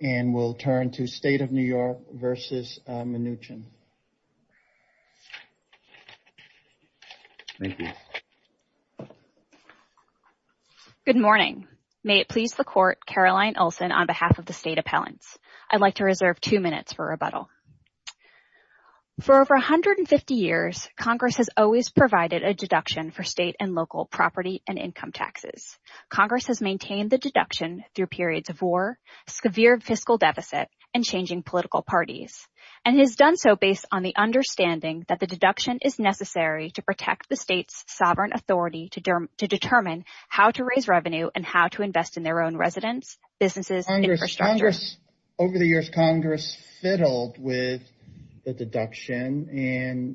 Good morning. May it please the Court, Caroline Olson on behalf of the State Appellants. I'd like to reserve two minutes for rebuttal. For over 150 years, Congress has always provided a deduction for state and local property and income taxes. Congress has maintained the fiscal deficit and changing political parties, and has done so based on the understanding that the deduction is necessary to protect the state's sovereign authority to determine how to raise revenue and how to invest in their own residents, businesses, and infrastructure. Over the years, Congress fiddled with the deduction,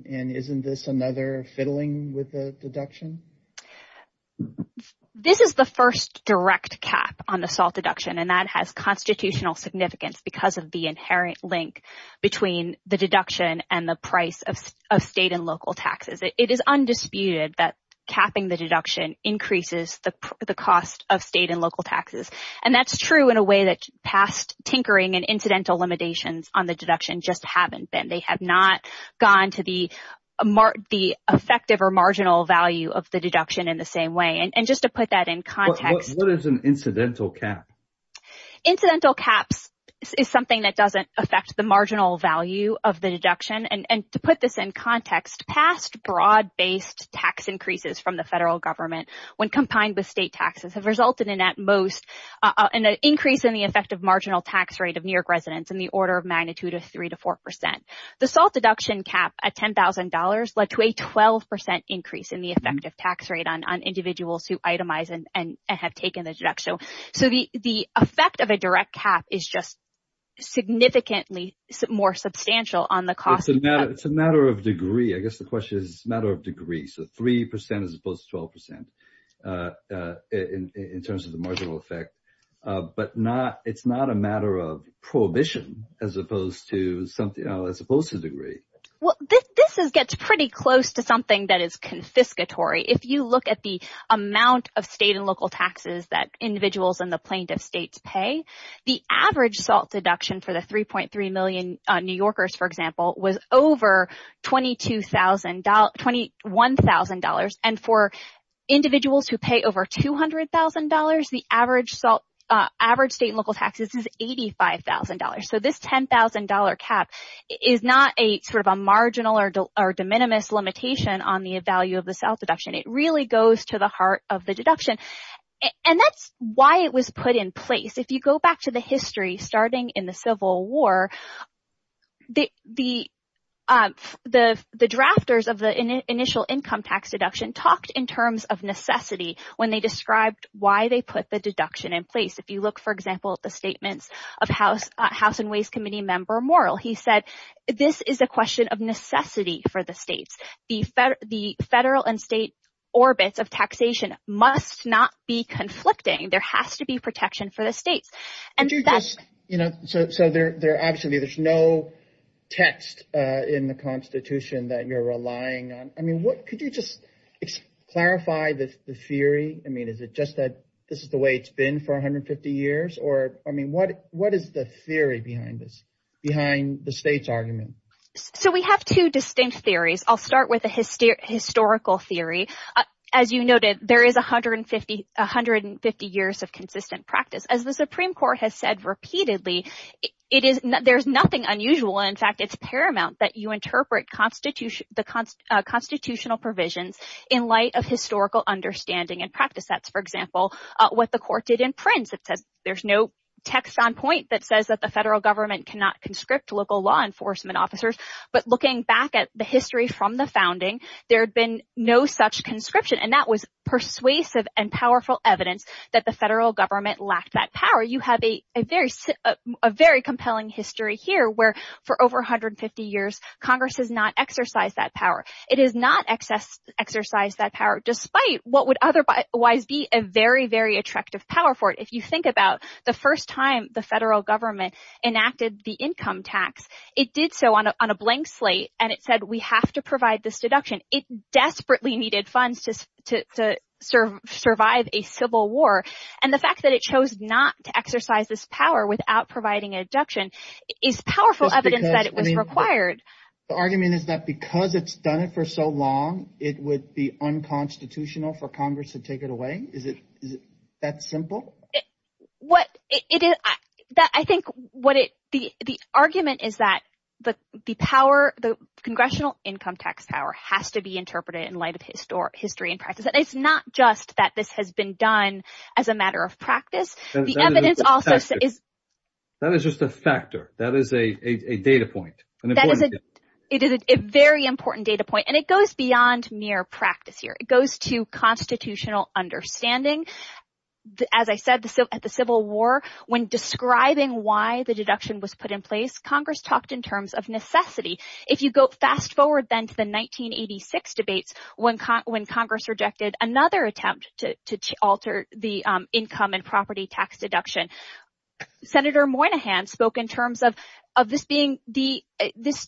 and isn't this another fiddling with the deduction? This is the first direct cap on the SALT deduction, and that has constitutional significance because of the inherent link between the deduction and the price of state and local taxes. It is undisputed that capping the deduction increases the cost of state and local taxes, and that's true in a way that past tinkering and incidental limitations on the deduction just haven't been. They have not gone to the effective or marginal value of the deduction in the same way. And just to put that in context, what is an incidental cap? Incidental caps is something that doesn't affect the marginal value of the deduction, and to put this in context, past broad-based tax increases from the federal government when combined with state taxes have resulted in at most an increase in the effective marginal tax rate of New York residents in the order of magnitude of 3 to 4 percent. The SALT deduction cap at $10,000 led to a 12 percent increase in the effective tax rate on individuals who the effect of a direct cap is just significantly more substantial on the cost. It's a matter of degree. I guess the question is, it's a matter of degree, so 3 percent as opposed to 12 percent in terms of the marginal effect. But it's not a matter of prohibition as opposed to degree. Well, this gets pretty close to something that is confiscatory. If you look at the state's pay, the average SALT deduction for the 3.3 million New Yorkers, for example, was over $21,000. And for individuals who pay over $200,000, the average state and local taxes is $85,000. So this $10,000 cap is not a sort of a marginal or de minimis limitation on the value of the SALT deduction. It really goes to the heart of the deduction. And that's why it was put in place. If you go back to the history starting in the Civil War, the drafters of the initial income tax deduction talked in terms of necessity when they described why they put the deduction in place. If you look, for example, at the statements of House and Ways Committee member Morrill, he said this is a question of necessity for the states. The federal and state orbits of taxation must not be conflicting. There has to be protection for the states. So obviously there's no text in the Constitution that you're relying on. Could you just clarify the theory? Is it just that this is the way it's been for 150 years? What is the theory behind this, behind the state's argument? So we have two distinct theories. I'll start with the historical theory. As you noted, there is 150 years of consistent practice. As the Supreme Court has said repeatedly, there's nothing unusual. In fact, it's paramount that you interpret the constitutional provisions in light of historical understanding and practice. That's, for example, what the court did in Prince. It says there's no text on point that says that the federal government cannot conscript local law enforcement officers. But looking back at the history from the founding, there had been no such conscription. And that was persuasive and powerful evidence that the federal government lacked that power. You have a very compelling history here where for over 150 years, Congress has not exercised that power. It has not exercised that power, despite what would otherwise be a very, very attractive power for it. The first time the federal government enacted the income tax, it did so on a blank slate and it said we have to provide this deduction. It desperately needed funds to survive a civil war. And the fact that it chose not to exercise this power without providing a deduction is powerful evidence that it was required. The argument is that because it's done it for so long, it would be unconstitutional for Congress to take it away? Is it that simple? What it is that I think what it the argument is that the power, the congressional income tax power has to be interpreted in light of historic history and practice. And it's not just that this has been done as a matter of practice. The evidence also is. That is just a factor. That is a data point. And that is a very important data point. And it goes beyond mere practice here. It goes to at the Civil War, when describing why the deduction was put in place, Congress talked in terms of necessity. If you go fast forward then to the 1986 debates, when Congress rejected another attempt to alter the income and property tax deduction. Senator Moynihan spoke in terms of this being the this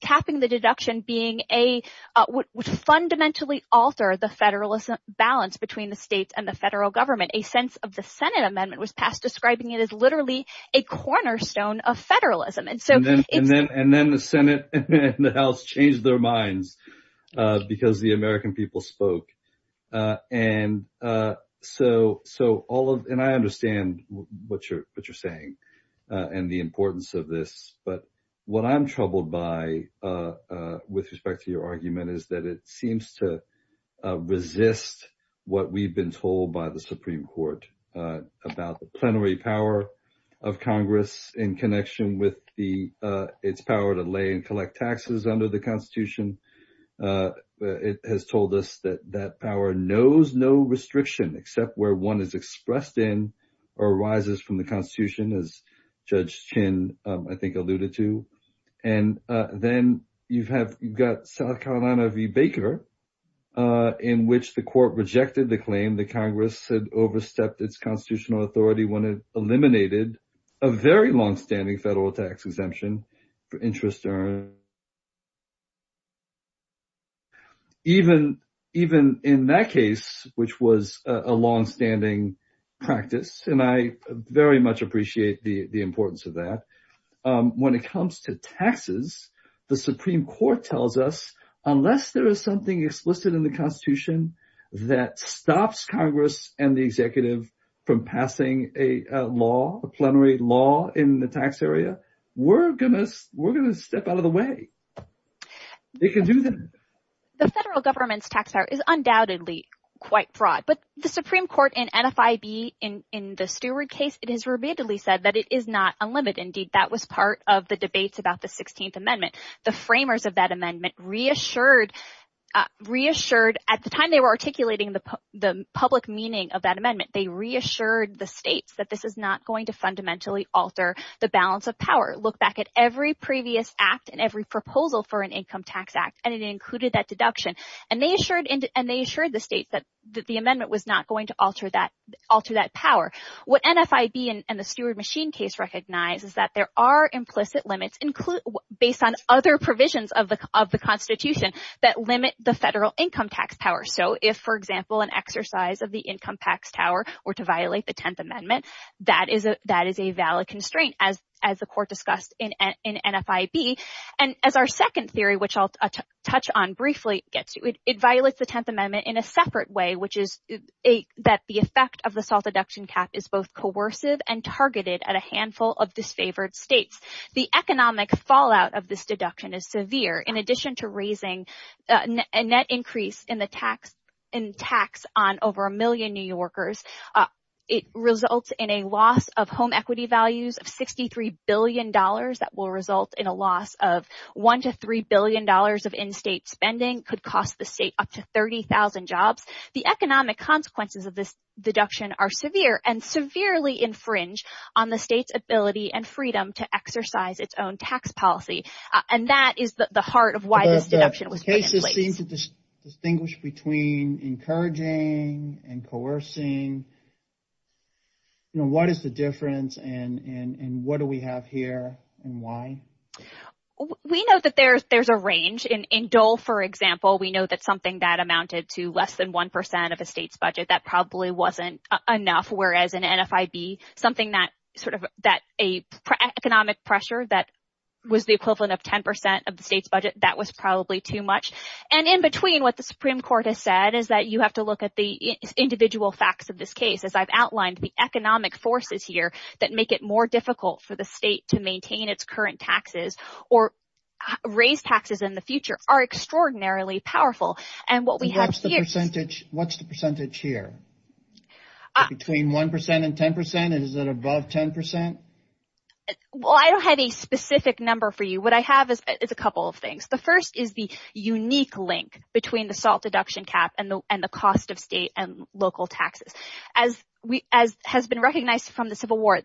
capping the deduction being a would fundamentally alter the federalism balance between the states and the federal government. A sense of the Senate amendment was passed describing it as literally a cornerstone of federalism. And so and then the Senate and the House changed their minds because the American people spoke. And so all of and I understand what you're saying and the importance of this. But what I'm troubled by with respect to your argument is that it seems to by the Supreme Court about the plenary power of Congress in connection with the its power to lay and collect taxes under the Constitution. It has told us that that power knows no restriction except where one is expressed in or arises from the Constitution as Judge Chin I think alluded to. And then you've got South Carolina v. Baker in which the court rejected the claim that Congress had overstepped its constitutional authority when it eliminated a very long-standing federal tax exemption for interest earned. Even in that case which was a long-standing practice and I very much appreciate the importance of that. When it comes to taxes the Supreme Court tells us unless there is something explicit in the Constitution that stops Congress and the executive from passing a law a plenary law in the tax area we're gonna we're gonna step out of the way. They can do that. The federal government's tax power is undoubtedly quite broad but the Supreme Court in NFIB in the Stewart case it has repeatedly said that it is not unlimited. Indeed at the time they were articulating the public meaning of that amendment they reassured the states that this is not going to fundamentally alter the balance of power. Look back at every previous act and every proposal for an income tax act and it included that deduction and they assured the states that the amendment was not going to alter that power. What NFIB and the Stewart machine case recognize is that there are implicit limits based on other provisions of the Constitution that limit the federal income tax power. So if for example an exercise of the income tax tower were to violate the Tenth Amendment that is a valid constraint as the court discussed in NFIB. And as our second theory which I'll touch on briefly gets you it violates the Tenth Amendment in a separate way which is that the effect of the salt deduction cap is both coercive and targeted at a handful of disfavored states. The economic fallout of this deduction is severe in addition to raising a net increase in the tax on over a million New Yorkers. It results in a loss of home equity values of 63 billion dollars that will result in a loss of one to three billion dollars of in-state spending could cost the state up to 30,000 jobs. The economic consequences of this deduction are severe and severely infringe on the state's ability and freedom to exercise its own tax policy and that is the heart of why this deduction was put in place. The cases seem to distinguish between encouraging and coercing. You know what is the difference and what do we have here and why? We know that there's a range in Dole for example we know that something that amounted to less than one percent of a state's sort of that a economic pressure that was the equivalent of ten percent of the state's budget that was probably too much and in between what the Supreme Court has said is that you have to look at the individual facts of this case as I've outlined the economic forces here that make it more difficult for the state to maintain its current taxes or raise taxes in the future are extraordinarily powerful and what we have here. What's the percentage here between one percent and ten percent and is it above ten percent? Well I don't have a specific number for you what I have is a couple of things. The first is the unique link between the SALT deduction cap and the cost of state and local taxes. As has been recognized from the Civil War,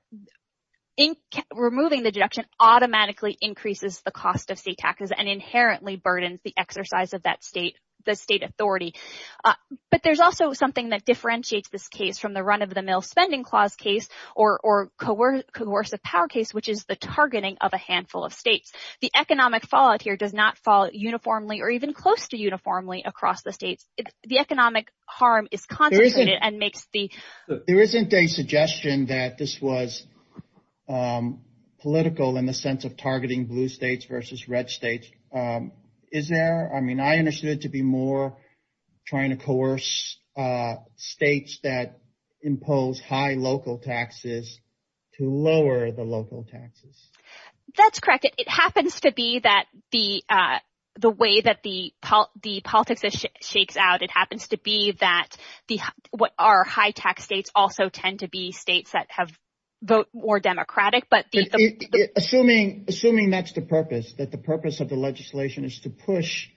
removing the deduction automatically increases the cost of state taxes and inherently burdens the exercise of that state the state authority but there's also something that differentiates this case from the run of the mill spending clause case or coercive power case which is the targeting of a handful of states. The economic fallout here does not fall uniformly or even close to uniformly across the states. The economic harm is concentrated and makes the... There isn't a suggestion that this was political in the sense of targeting blue states versus red states. Is there? I mean I understood it to be more trying to coerce states that impose high local taxes to lower the local taxes. That's correct. It happens to be that the way that the politics shakes out it happens to be that what are high tax states also tend to be states that have vote more democratic but... Assuming that's the purpose that the purpose of the legislation is to push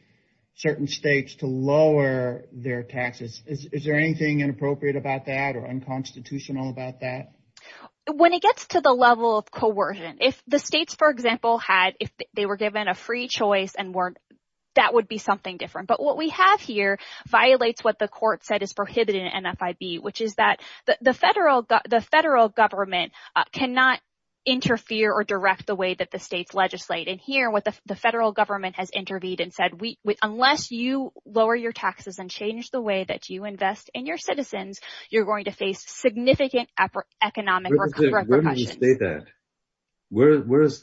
certain states to lower their taxes is there anything inappropriate about that or unconstitutional about that? When it gets to the level of coercion if the states for example had if they were given a free choice and weren't that would be something different but what we have here violates what the court said is prohibited in NFIB which is that the federal government cannot interfere or direct the way that the states legislate and here what the federal government has intervened and said we unless you lower your taxes and change the way that you invest in your citizens you're going to face significant economic repercussions. Where does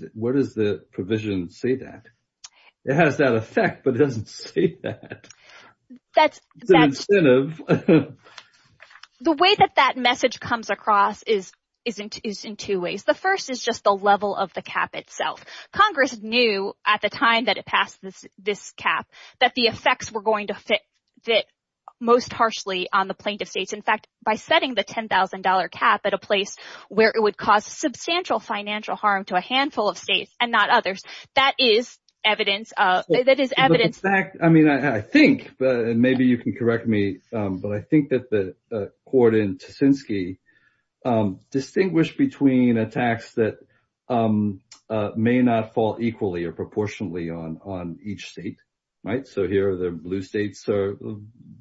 the provision say that? It has that effect but doesn't say that. That's an incentive. The way that that message comes across is in two ways. The first is just the level of the this cap that the effects were going to fit most harshly on the plaintiff states. In fact by setting the $10,000 cap at a place where it would cause substantial financial harm to a handful of states and not others that is evidence. I mean I think and maybe you can correct me but I think that the court in Tuszynski distinguished between a tax that may not fall equally or proportionately on each state right so here the blue states are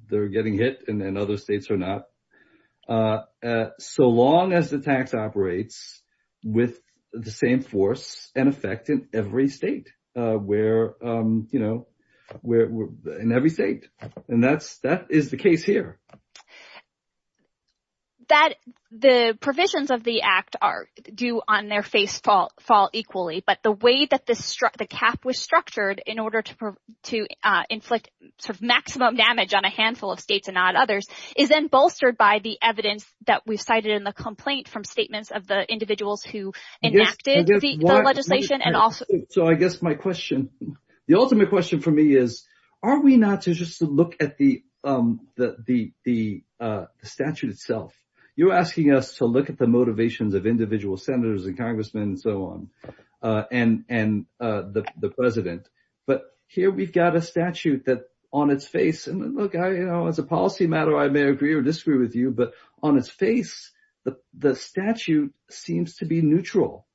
they're getting hit and then other states are not. So long as the tax operates with the same force and effect in every state where you know we're in every state and that's that is the case here. The provisions of the act are due on their face fall equally but the way that this the cap was structured in order to to inflict sort of maximum damage on a handful of states and not others is then bolstered by the evidence that we've cited in the complaint from statements of the individuals who enacted the legislation and also so I guess my question the ultimate question for me is are we not to just look at the statute itself you're asking us to look at the motivations of individual senators and congressmen and so on and the president but here we've got a statute that on its face and look I you know as a policy matter I may agree or disagree with you but on its face the statute seems to be neutral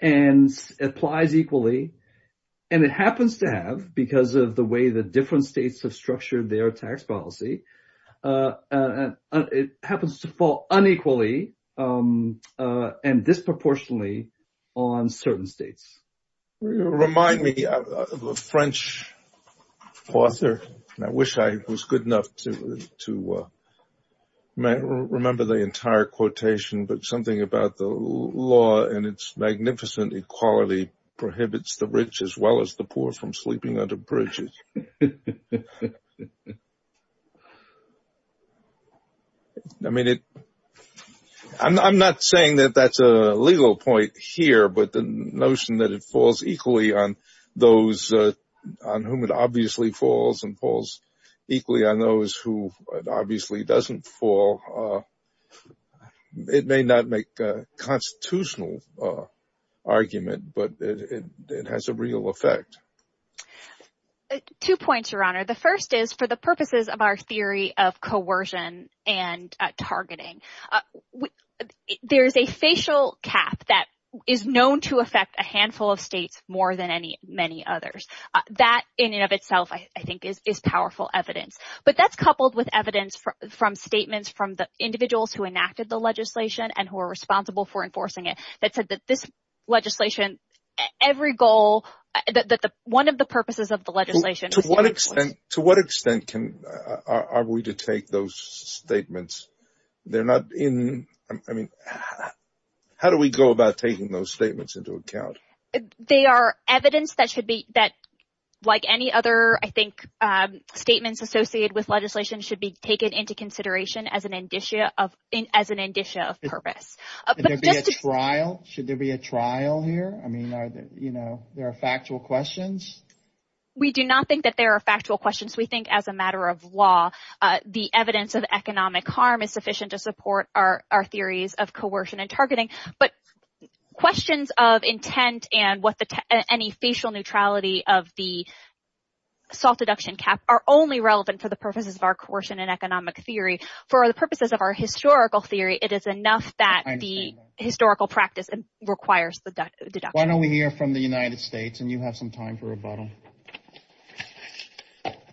and applies equally and it because of the way the different states have structured their tax policy and it happens to fall unequally and disproportionately on certain states remind me of a french author and I wish I was good enough to to remember the entire quotation but something about the law and its bridges I mean it I'm not saying that that's a legal point here but the notion that it falls equally on those on whom it obviously falls and falls equally on those who it obviously doesn't fall it may not make a constitutional argument but it has a real effect two points your honor the first is for the purposes of our theory of coercion and targeting there's a facial cap that is known to affect a handful of states more than any many others that in and of itself I think is powerful evidence but that's coupled with evidence from statements from the individuals who enacted the legislation and who are responsible for enforcing it that said that this legislation every goal that the one of the purposes of the legislation to what extent to what extent can are we to take those statements they're not in I mean how do we go about taking those statements into account they are evidence that should be that like any other I think statements associated with legislation should be taken into consideration as an indicia of as an indicia of purpose should there be a trial here I mean are you know there are factual questions we do not think that there are factual questions we think as a matter of law the evidence of economic harm is sufficient to support our our theories of coercion and targeting but questions of intent and what the any facial neutrality of the soft deduction cap are only relevant for the purposes of our coercion and economic theory for the purposes of our historical theory it is enough that the historical practice requires the deduction why don't we hear from the United States and you have some time for rebuttal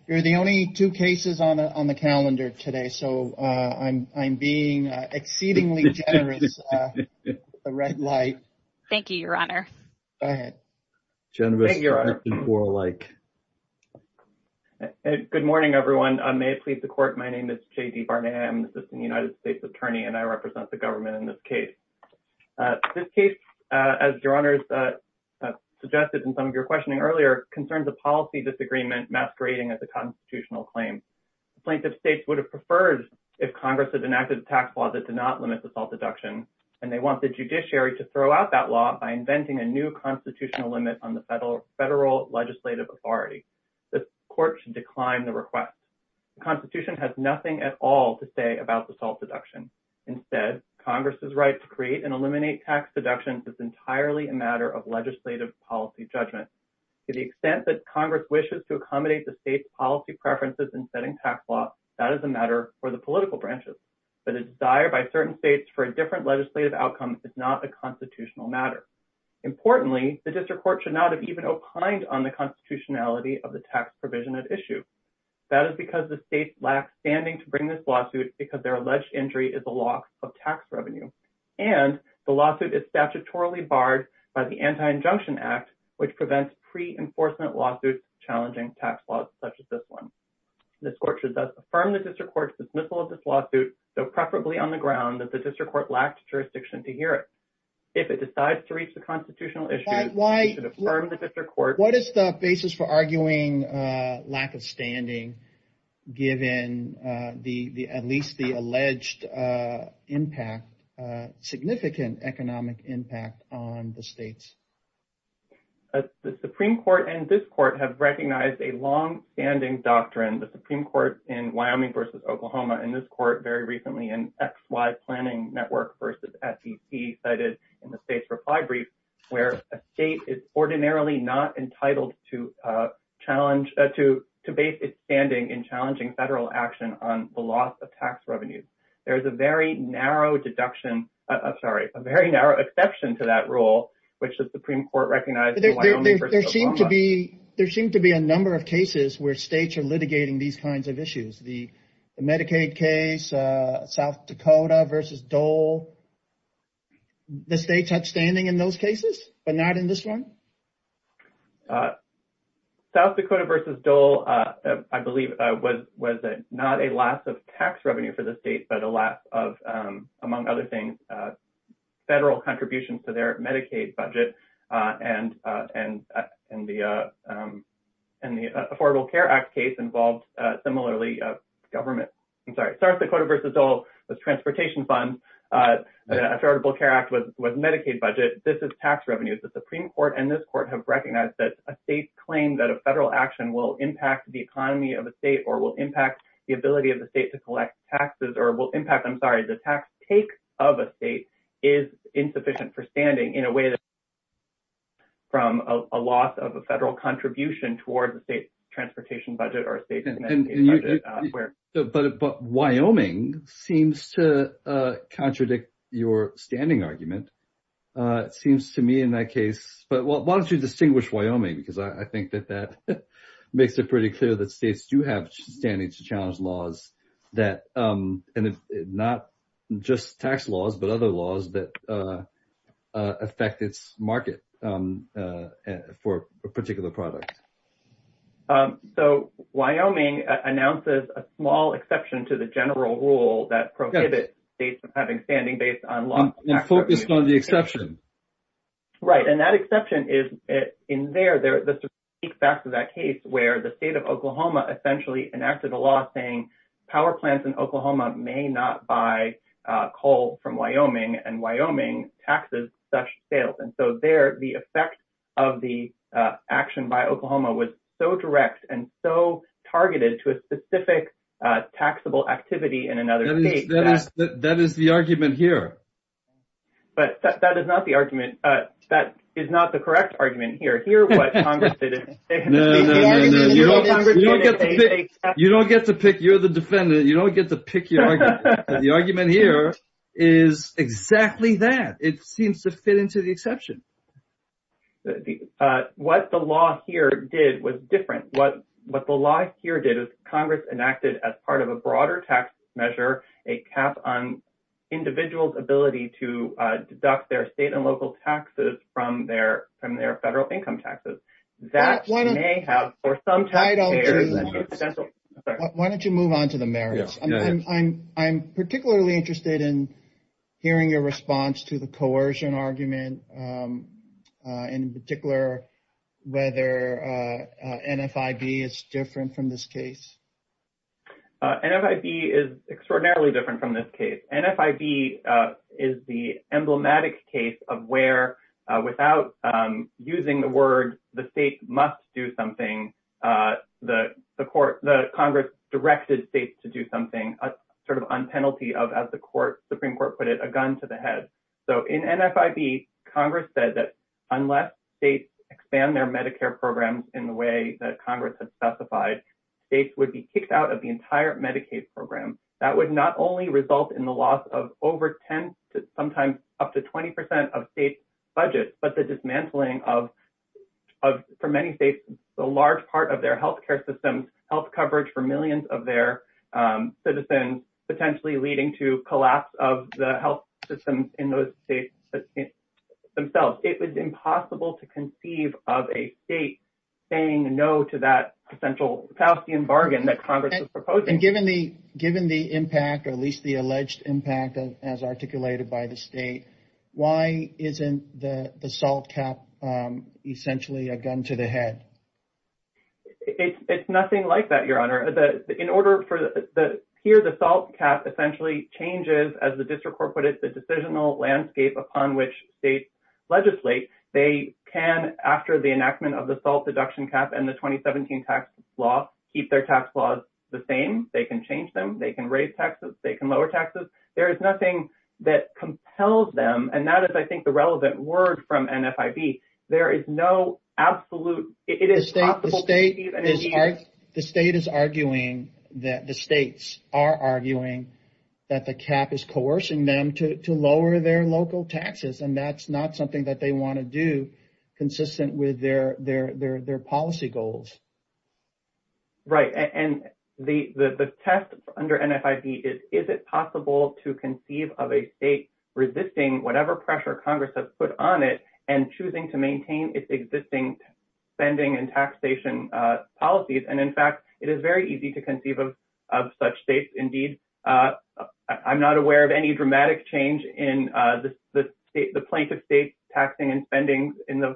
you're the only two cases on on the calendar today so uh I'm I'm being exceedingly generous a red light thank you your honor go ahead generous like good morning everyone I may please the court my name is J.D. Barnett I'm an assistant United States attorney and I represent the government in this case uh this case uh as your honors uh suggested in some of your questioning earlier concerns a policy disagreement masquerading as a constitutional claim plaintiff states would have preferred if congress had enacted a tax law that did not limit the salt deduction and they want the judiciary to throw out that law by inventing a new constitutional limit on the federal legislative authority the court should decline the request the constitution has nothing at all to say about the salt deduction instead congress's right to create and eliminate tax deductions is entirely a matter of legislative policy judgment to the extent that congress wishes to accommodate the state's policy preferences in that is a matter for the political branches but a desire by certain states for a different legislative outcome is not a constitutional matter importantly the district court should not have even opined on the constitutionality of the tax provision at issue that is because the states lack standing to bring this lawsuit because their alleged injury is the locks of tax revenue and the lawsuit is statutorily barred by the anti-injunction act which prevents pre-enforcement lawsuits challenging tax laws such as this one this court should thus affirm the district court's dismissal of this lawsuit so preferably on the ground that the district court lacked jurisdiction to hear it if it decides to reach the constitutional issue why should affirm the district court what is the basis for arguing uh lack of standing given uh the the at least the alleged uh impact uh economic impact on the states the supreme court and this court have recognized a long-standing doctrine the supreme court in wyoming versus oklahoma in this court very recently in xy planning network versus fdc cited in the state's reply brief where a state is ordinarily not entitled to uh challenge to to base its standing in challenging federal action on the loss of tax a very narrow exception to that rule which the supreme court recognized there seemed to be there seemed to be a number of cases where states are litigating these kinds of issues the medicaid case uh south dakota versus dole the state's outstanding in those cases but not in this one uh south dakota versus dole uh i believe uh was was it not a loss of tax revenue for the state but a loss of um among other things uh federal contributions to their medicaid budget uh and uh and and the uh um and the affordable care act case involved uh similarly uh government i'm sorry south dakota versus dole was transportation fund uh affordable care act was medicaid budget this is tax revenues the supreme court and this court have recognized that a state claim that a federal action will impact the economy of a state or will impact the ability of the state to collect taxes or will impact i'm sorry the tax take of a state is insufficient for standing in a way that from a loss of a federal contribution towards the state transportation budget or state but but wyoming seems to uh contradict your standing argument uh it seems to me in that case but why don't you distinguish wyoming because i i think that that makes it pretty clear that um and it's not just tax laws but other laws that uh uh affect its market um uh for a particular product um so wyoming announces a small exception to the general rule that prohibits states from having standing based on law and focused on the exception right and that exception is it in there there the speak back to that case where the state of oklahoma essentially enacted a law saying power plants in oklahoma may not buy uh coal from wyoming and wyoming taxes such sales and so there the effect of the uh action by oklahoma was so direct and so targeted to a specific uh taxable activity in another state that is the argument here but that is not the argument uh that is not correct argument here hear what congress did you don't get to pick you're the defendant you don't get to pick your argument the argument here is exactly that it seems to fit into the exception what the law here did was different what what the law here did is congress enacted as part of a broader tax measure a cap on individual's ability to uh deduct their state and local taxes from their federal income taxes that one may have for some title why don't you move on to the merits i'm particularly interested in hearing your response to the coercion argument in particular whether uh nfib is different from this case nfib is extraordinarily different from this case nfib uh is the emblematic case of where uh without um using the word the state must do something uh the the court the congress directed states to do something a sort of on penalty of as the court supreme court put it a gun to the head so in nfib congress said that unless states expand their medicare programs in the way that congress has specified states would be kicked out of the over 10 to sometimes up to 20 percent of state budgets but the dismantling of of for many states the large part of their health care systems health coverage for millions of their citizens potentially leading to collapse of the health systems in those states themselves it was impossible to conceive of a state saying no to that potential calcium bargain that congress is proposing given the given the impact or at least the alleged impact as articulated by the state why isn't the the salt cap um essentially a gun to the head it's it's nothing like that your honor the in order for the here the salt cap essentially changes as the district court put it the decisional landscape upon which states legislate they can after the enactment of the salt deduction cap and the 2017 tax law keep their tax laws the same they can change them they can raise taxes they can lower taxes there is nothing that compels them and that is i think the relevant word from nfib there is no absolute it is the state the state is arguing that the states are arguing that the cap is coercing them to to lower their local taxes and that's not something that they want to do consistent with their their their their policy goals right and the the test under nfib is is it possible to conceive of a state resisting whatever pressure congress has put on it and choosing to maintain its existing spending and taxation uh policies and in fact it is very easy to conceive of of such states indeed uh i'm not aware of any dramatic change in uh the state the plaintiff state taxing and spending in the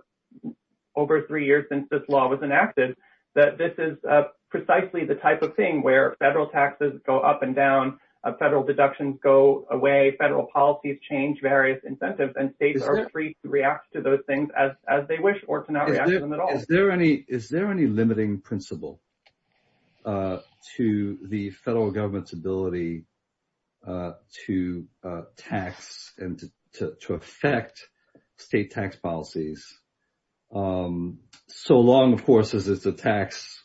over three years since this law was enacted that this is uh precisely the type of thing where federal taxes go up and down federal deductions go away federal policies change various incentives and states are free to react to those things as as they wish or to not react to them at all is there any is there any limiting principle uh to the federal government's ability uh to uh tax and to to affect state tax policies um so long of course as it's a tax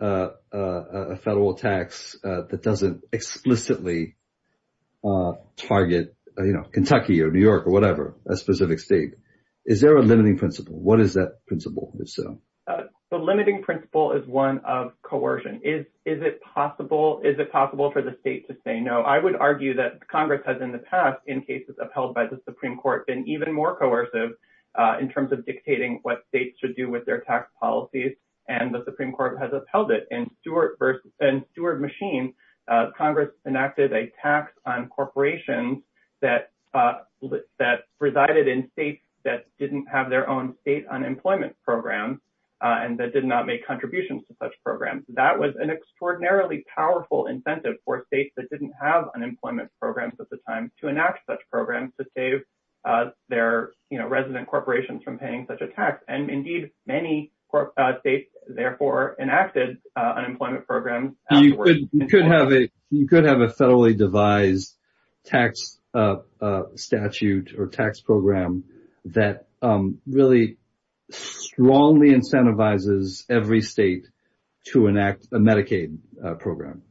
uh a federal tax uh that doesn't explicitly uh target you know kentucky or new york or whatever a specific state is there a limiting principle what is that principle if so the limiting principle is one of coercion is is it possible is it possible for the state to say no i would argue that congress has in the past in cases upheld by the supreme court been even more coercive in terms of dictating what states should do with their tax policies and the supreme court has held it in stewart versus and steward machine uh congress enacted a tax on corporations that uh that resided in states that didn't have their own state unemployment programs uh and that did not make contributions to such programs that was an extraordinarily powerful incentive for states that didn't have unemployment programs at the time to enact such programs to save uh their you know unemployment programs you could you could have a you could have a federally devised tax uh uh statute or tax program that um really strongly incentivizes every state to enact a medicaid program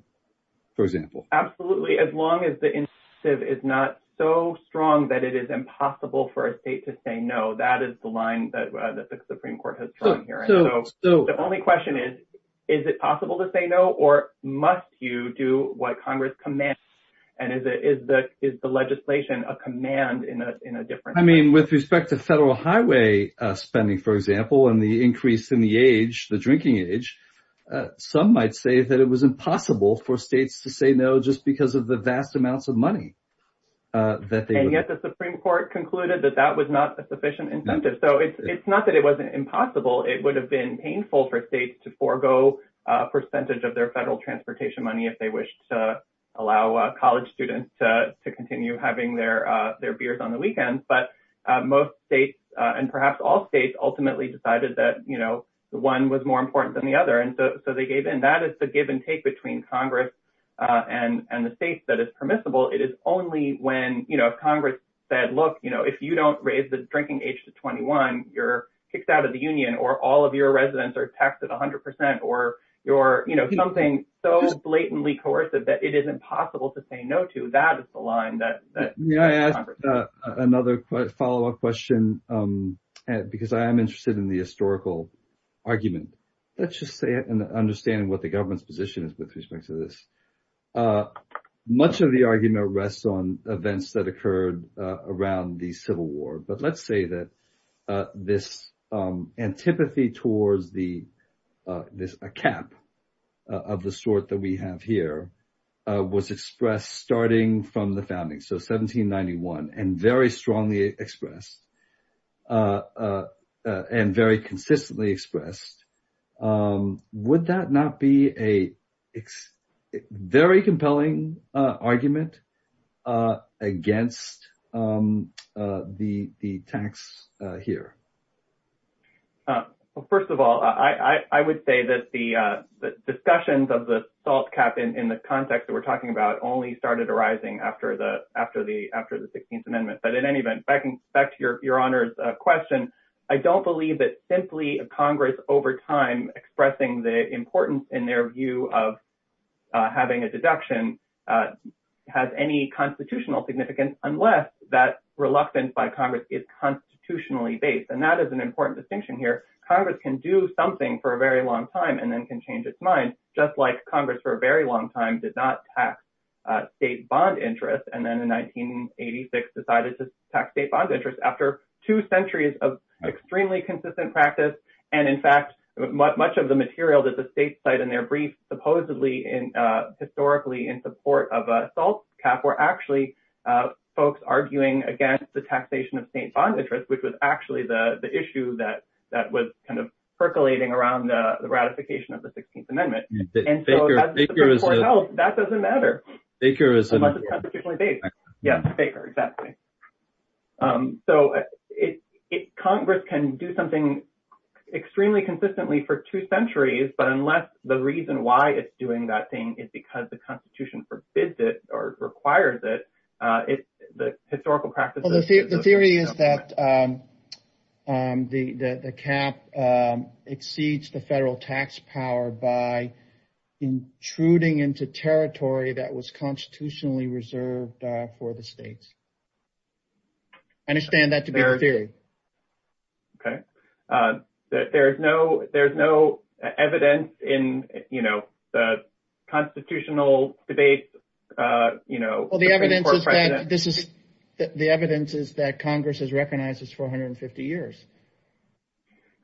for example absolutely as long as the incentive is not so strong that it is impossible for a state to say no that is the line that the supreme court has drawn here so the only question is is it possible to say no or must you do what congress commands and is it is the is the legislation a command in a in a different i mean with respect to federal highway uh spending for example and the increase in the age the drinking age some might say that it was impossible for states to say no just because of the vast amounts of money that they get the supreme court concluded that that was not a sufficient incentive so it's it's impossible it would have been painful for states to forego a percentage of their federal transportation money if they wished to allow college students to continue having their uh their beers on the weekends but most states and perhaps all states ultimately decided that you know the one was more important than the other and so they gave in that is the give and take between congress uh and and the states that is permissible it is only when you know if congress said look you know if you don't raise the drinking age to 21 you're kicked out of the union or all of your residents are taxed at 100 percent or you're you know something so blatantly coercive that it isn't possible to say no to that is the line that may i ask another follow-up question um because i am interested in the historical argument let's just say and understanding what the government's position is with respect to this uh much of the argument rests on events that occurred uh around the civil war but let's say that uh this um antipathy towards the this a cap of the sort that we have here uh was expressed starting from the founding so 1791 and very strongly expressed uh uh and very consistently expressed um would that not be a very compelling uh argument uh against um uh the the tax uh here uh well first of all i i i would say that the uh the discussions of the salt cap in in the context that we're talking about only started arising after the after the after the 16th amendment but in any event back to your your honor's uh question i don't believe that simply a congress over time expressing the importance in their view of having a deduction uh has any constitutional significance unless that reluctance by congress is constitutionally based and that is an important distinction here congress can do something for a very long time and then can change its mind just like congress for a very long time did not tax uh state bond interest and then in 1986 decided to tax state bond interest after two centuries of extremely consistent practice and in fact much of the material that the states cite in their brief supposedly in uh historically in support of a salt cap were actually uh folks arguing against the taxation of state bond interest which was actually the the issue that that was kind of percolating around the ratification of the 16th amendment and so that doesn't matter baker is constitutionally based yeah baker exactly um so it congress can do something extremely consistently for two centuries but unless the reason why it's doing that thing is because the constitution forbids it or requires it uh it's the historical practices the theory is that um um the the cap um exceeds the federal tax power by intruding into territory that was constitutionally reserved uh for the states i understand that to be a theory okay uh there's no there's no evidence in you know the constitutional debate uh you know well the evidence is that this is the evidence is that congress has recognized this 450 years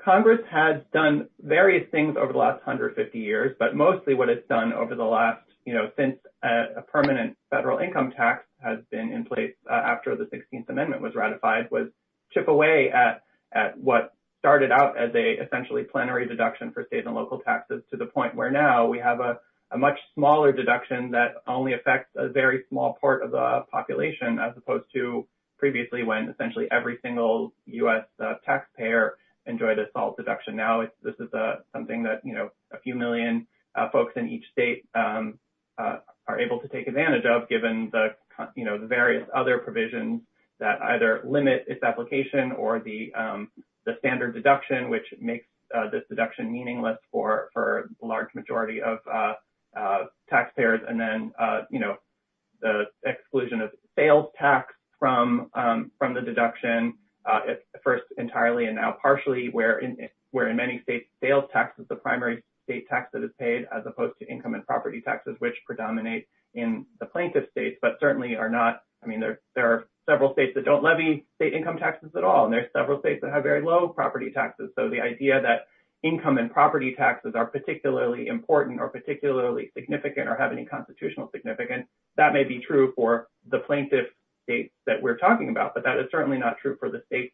congress has done various things over the last 150 years but mostly what it's done over the last you know since a permanent federal income tax has been in place after the 16th amendment was ratified was chip away at at what started out as a essentially plenary deduction for state and local taxes to the point where now we have a much smaller deduction that only affects a very small part of the population as opposed to previously when essentially every single u.s taxpayer enjoyed a salt deduction now this is a something that you know a few million folks in each state um are able to take advantage of given the you know various other provisions that either limit its application or the um the standard deduction which makes this deduction meaningless for for the large majority of uh uh taxpayers and then uh you know the exclusion of sales tax from um from the deduction uh at first entirely and now partially where in where in many states sales tax is the primary state tax that is paid as opposed to I mean there there are several states that don't levy state income taxes at all and there's several states that have very low property taxes so the idea that income and property taxes are particularly important or particularly significant or have any constitutional significance that may be true for the plaintiff states that we're talking about but that is certainly not true for the states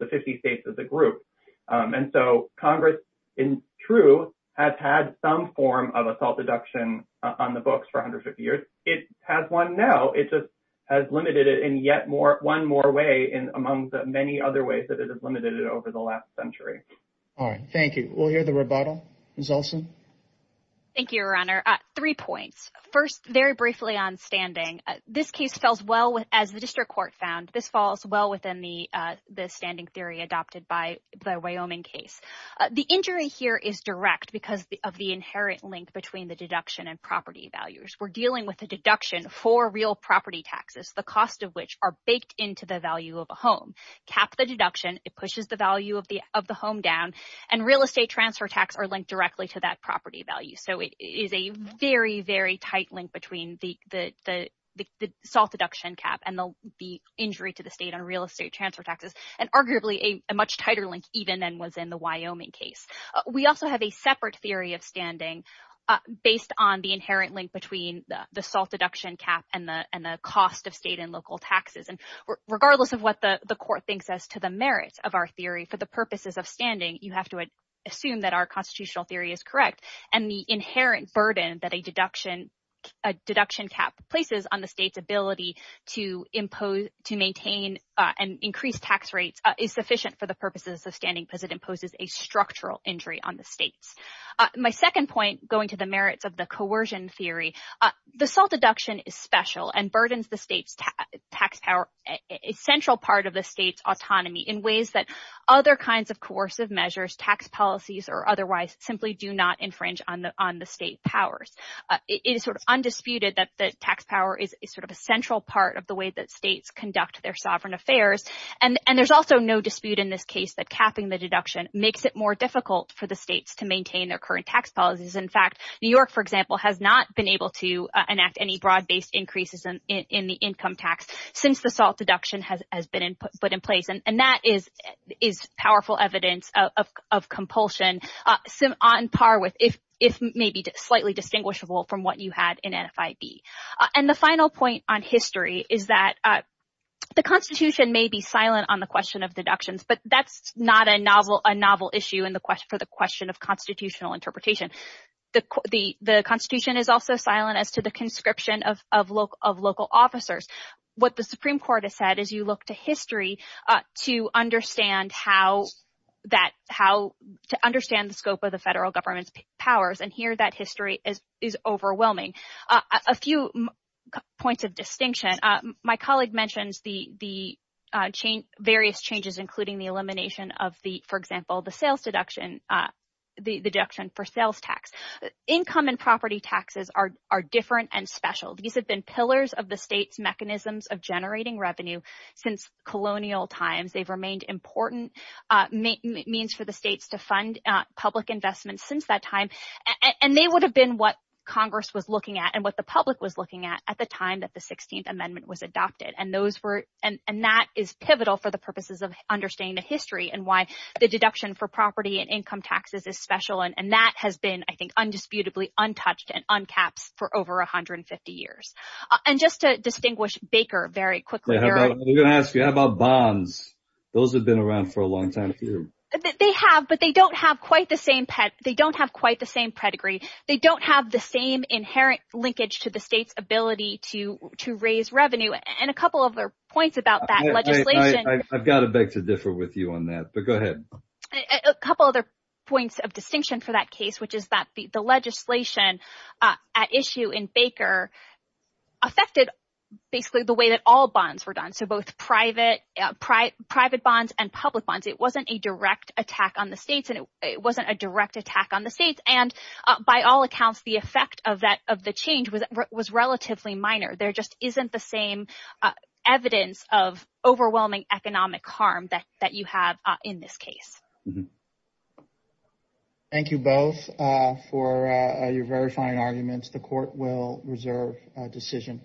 the 50 states as a group and so congress in true has had some form of assault deduction on the books for 150 years it has one now it just has limited it in yet more one more way in among the many other ways that it has limited it over the last century all right thank you we'll hear the rebuttal Ms. Olson thank you your honor uh three points first very briefly on standing this case fells well with as the district court found this falls well within the uh the standing theory adopted by the wyoming case the injury here is direct because of the inherent link between the deduction and property values we're dealing with a deduction for real property taxes the cost of which are baked into the value of a home cap the deduction it pushes the value of the of the home down and real estate transfer tax are linked directly to that property value so it is a very very tight link between the the the the salt deduction cap and the the injury to the state on real estate transfer taxes and arguably a much tighter link even than was in the wyoming case we also have a separate theory of standing uh based on the inherent link between the the salt deduction cap and the and the cost of state and local taxes and regardless of what the the court thinks as to the merits of our theory for the purposes of standing you have to assume that our constitutional theory is correct and the inherent burden that a deduction a deduction cap places on the state's ability to impose to maintain uh and increase tax rates is sufficient for the purposes of standing because it imposes a structural injury on the states my second point going to the merits of the coercion theory the salt deduction is special and burdens the state's tax power a central part of the state's autonomy in ways that other kinds of coercive measures tax policies or otherwise simply do not infringe on the on the state powers it is sort of undisputed that the tax power is sort of a central part of the way that states conduct their sovereign affairs and and there's also no dispute in this case that capping the deduction makes it more difficult for the states to maintain their current tax policies in fact new york for example has not been able to enact any broad-based increases in in the income tax since the salt deduction has been put in place and that is is powerful evidence of of compulsion uh sim on par with if if maybe slightly distinguishable from what you had in nfib and the final point on history is that uh the constitution may be silent on the question of deductions but that's not a novel a novel issue in the question for the question of constitutional interpretation the the the constitution is also silent as to the conscription of of local of local officers what the supreme court has said is you look to history to understand how that how to understand the scope of the federal government's powers and that history is is overwhelming a few points of distinction uh my colleague mentions the the uh change various changes including the elimination of the for example the sales deduction uh the deduction for sales tax income and property taxes are are different and special these have been pillars of the state's mechanisms of generating revenue since colonial times they've and they would have been what congress was looking at and what the public was looking at at the time that the 16th amendment was adopted and those were and and that is pivotal for the purposes of understanding the history and why the deduction for property and income taxes is special and and that has been i think undisputably untouched and uncaps for over 150 years and just to distinguish baker very quickly we're gonna ask you how about bonds those have been around for a long time they have but they don't have quite the same pet they don't have quite the same pedigree they don't have the same inherent linkage to the state's ability to to raise revenue and a couple of their points about that legislation i've got to beg to differ with you on that but go ahead a couple other points of distinction for that case which is that the legislation uh at issue in baker affected basically the way that all bonds were done so both private uh private bonds and public bonds it wasn't a direct attack on the states and it by all accounts the effect of that of the change was relatively minor there just isn't the same evidence of overwhelming economic harm that that you have in this case thank you both uh for uh your verifying arguments the court will reserve a decision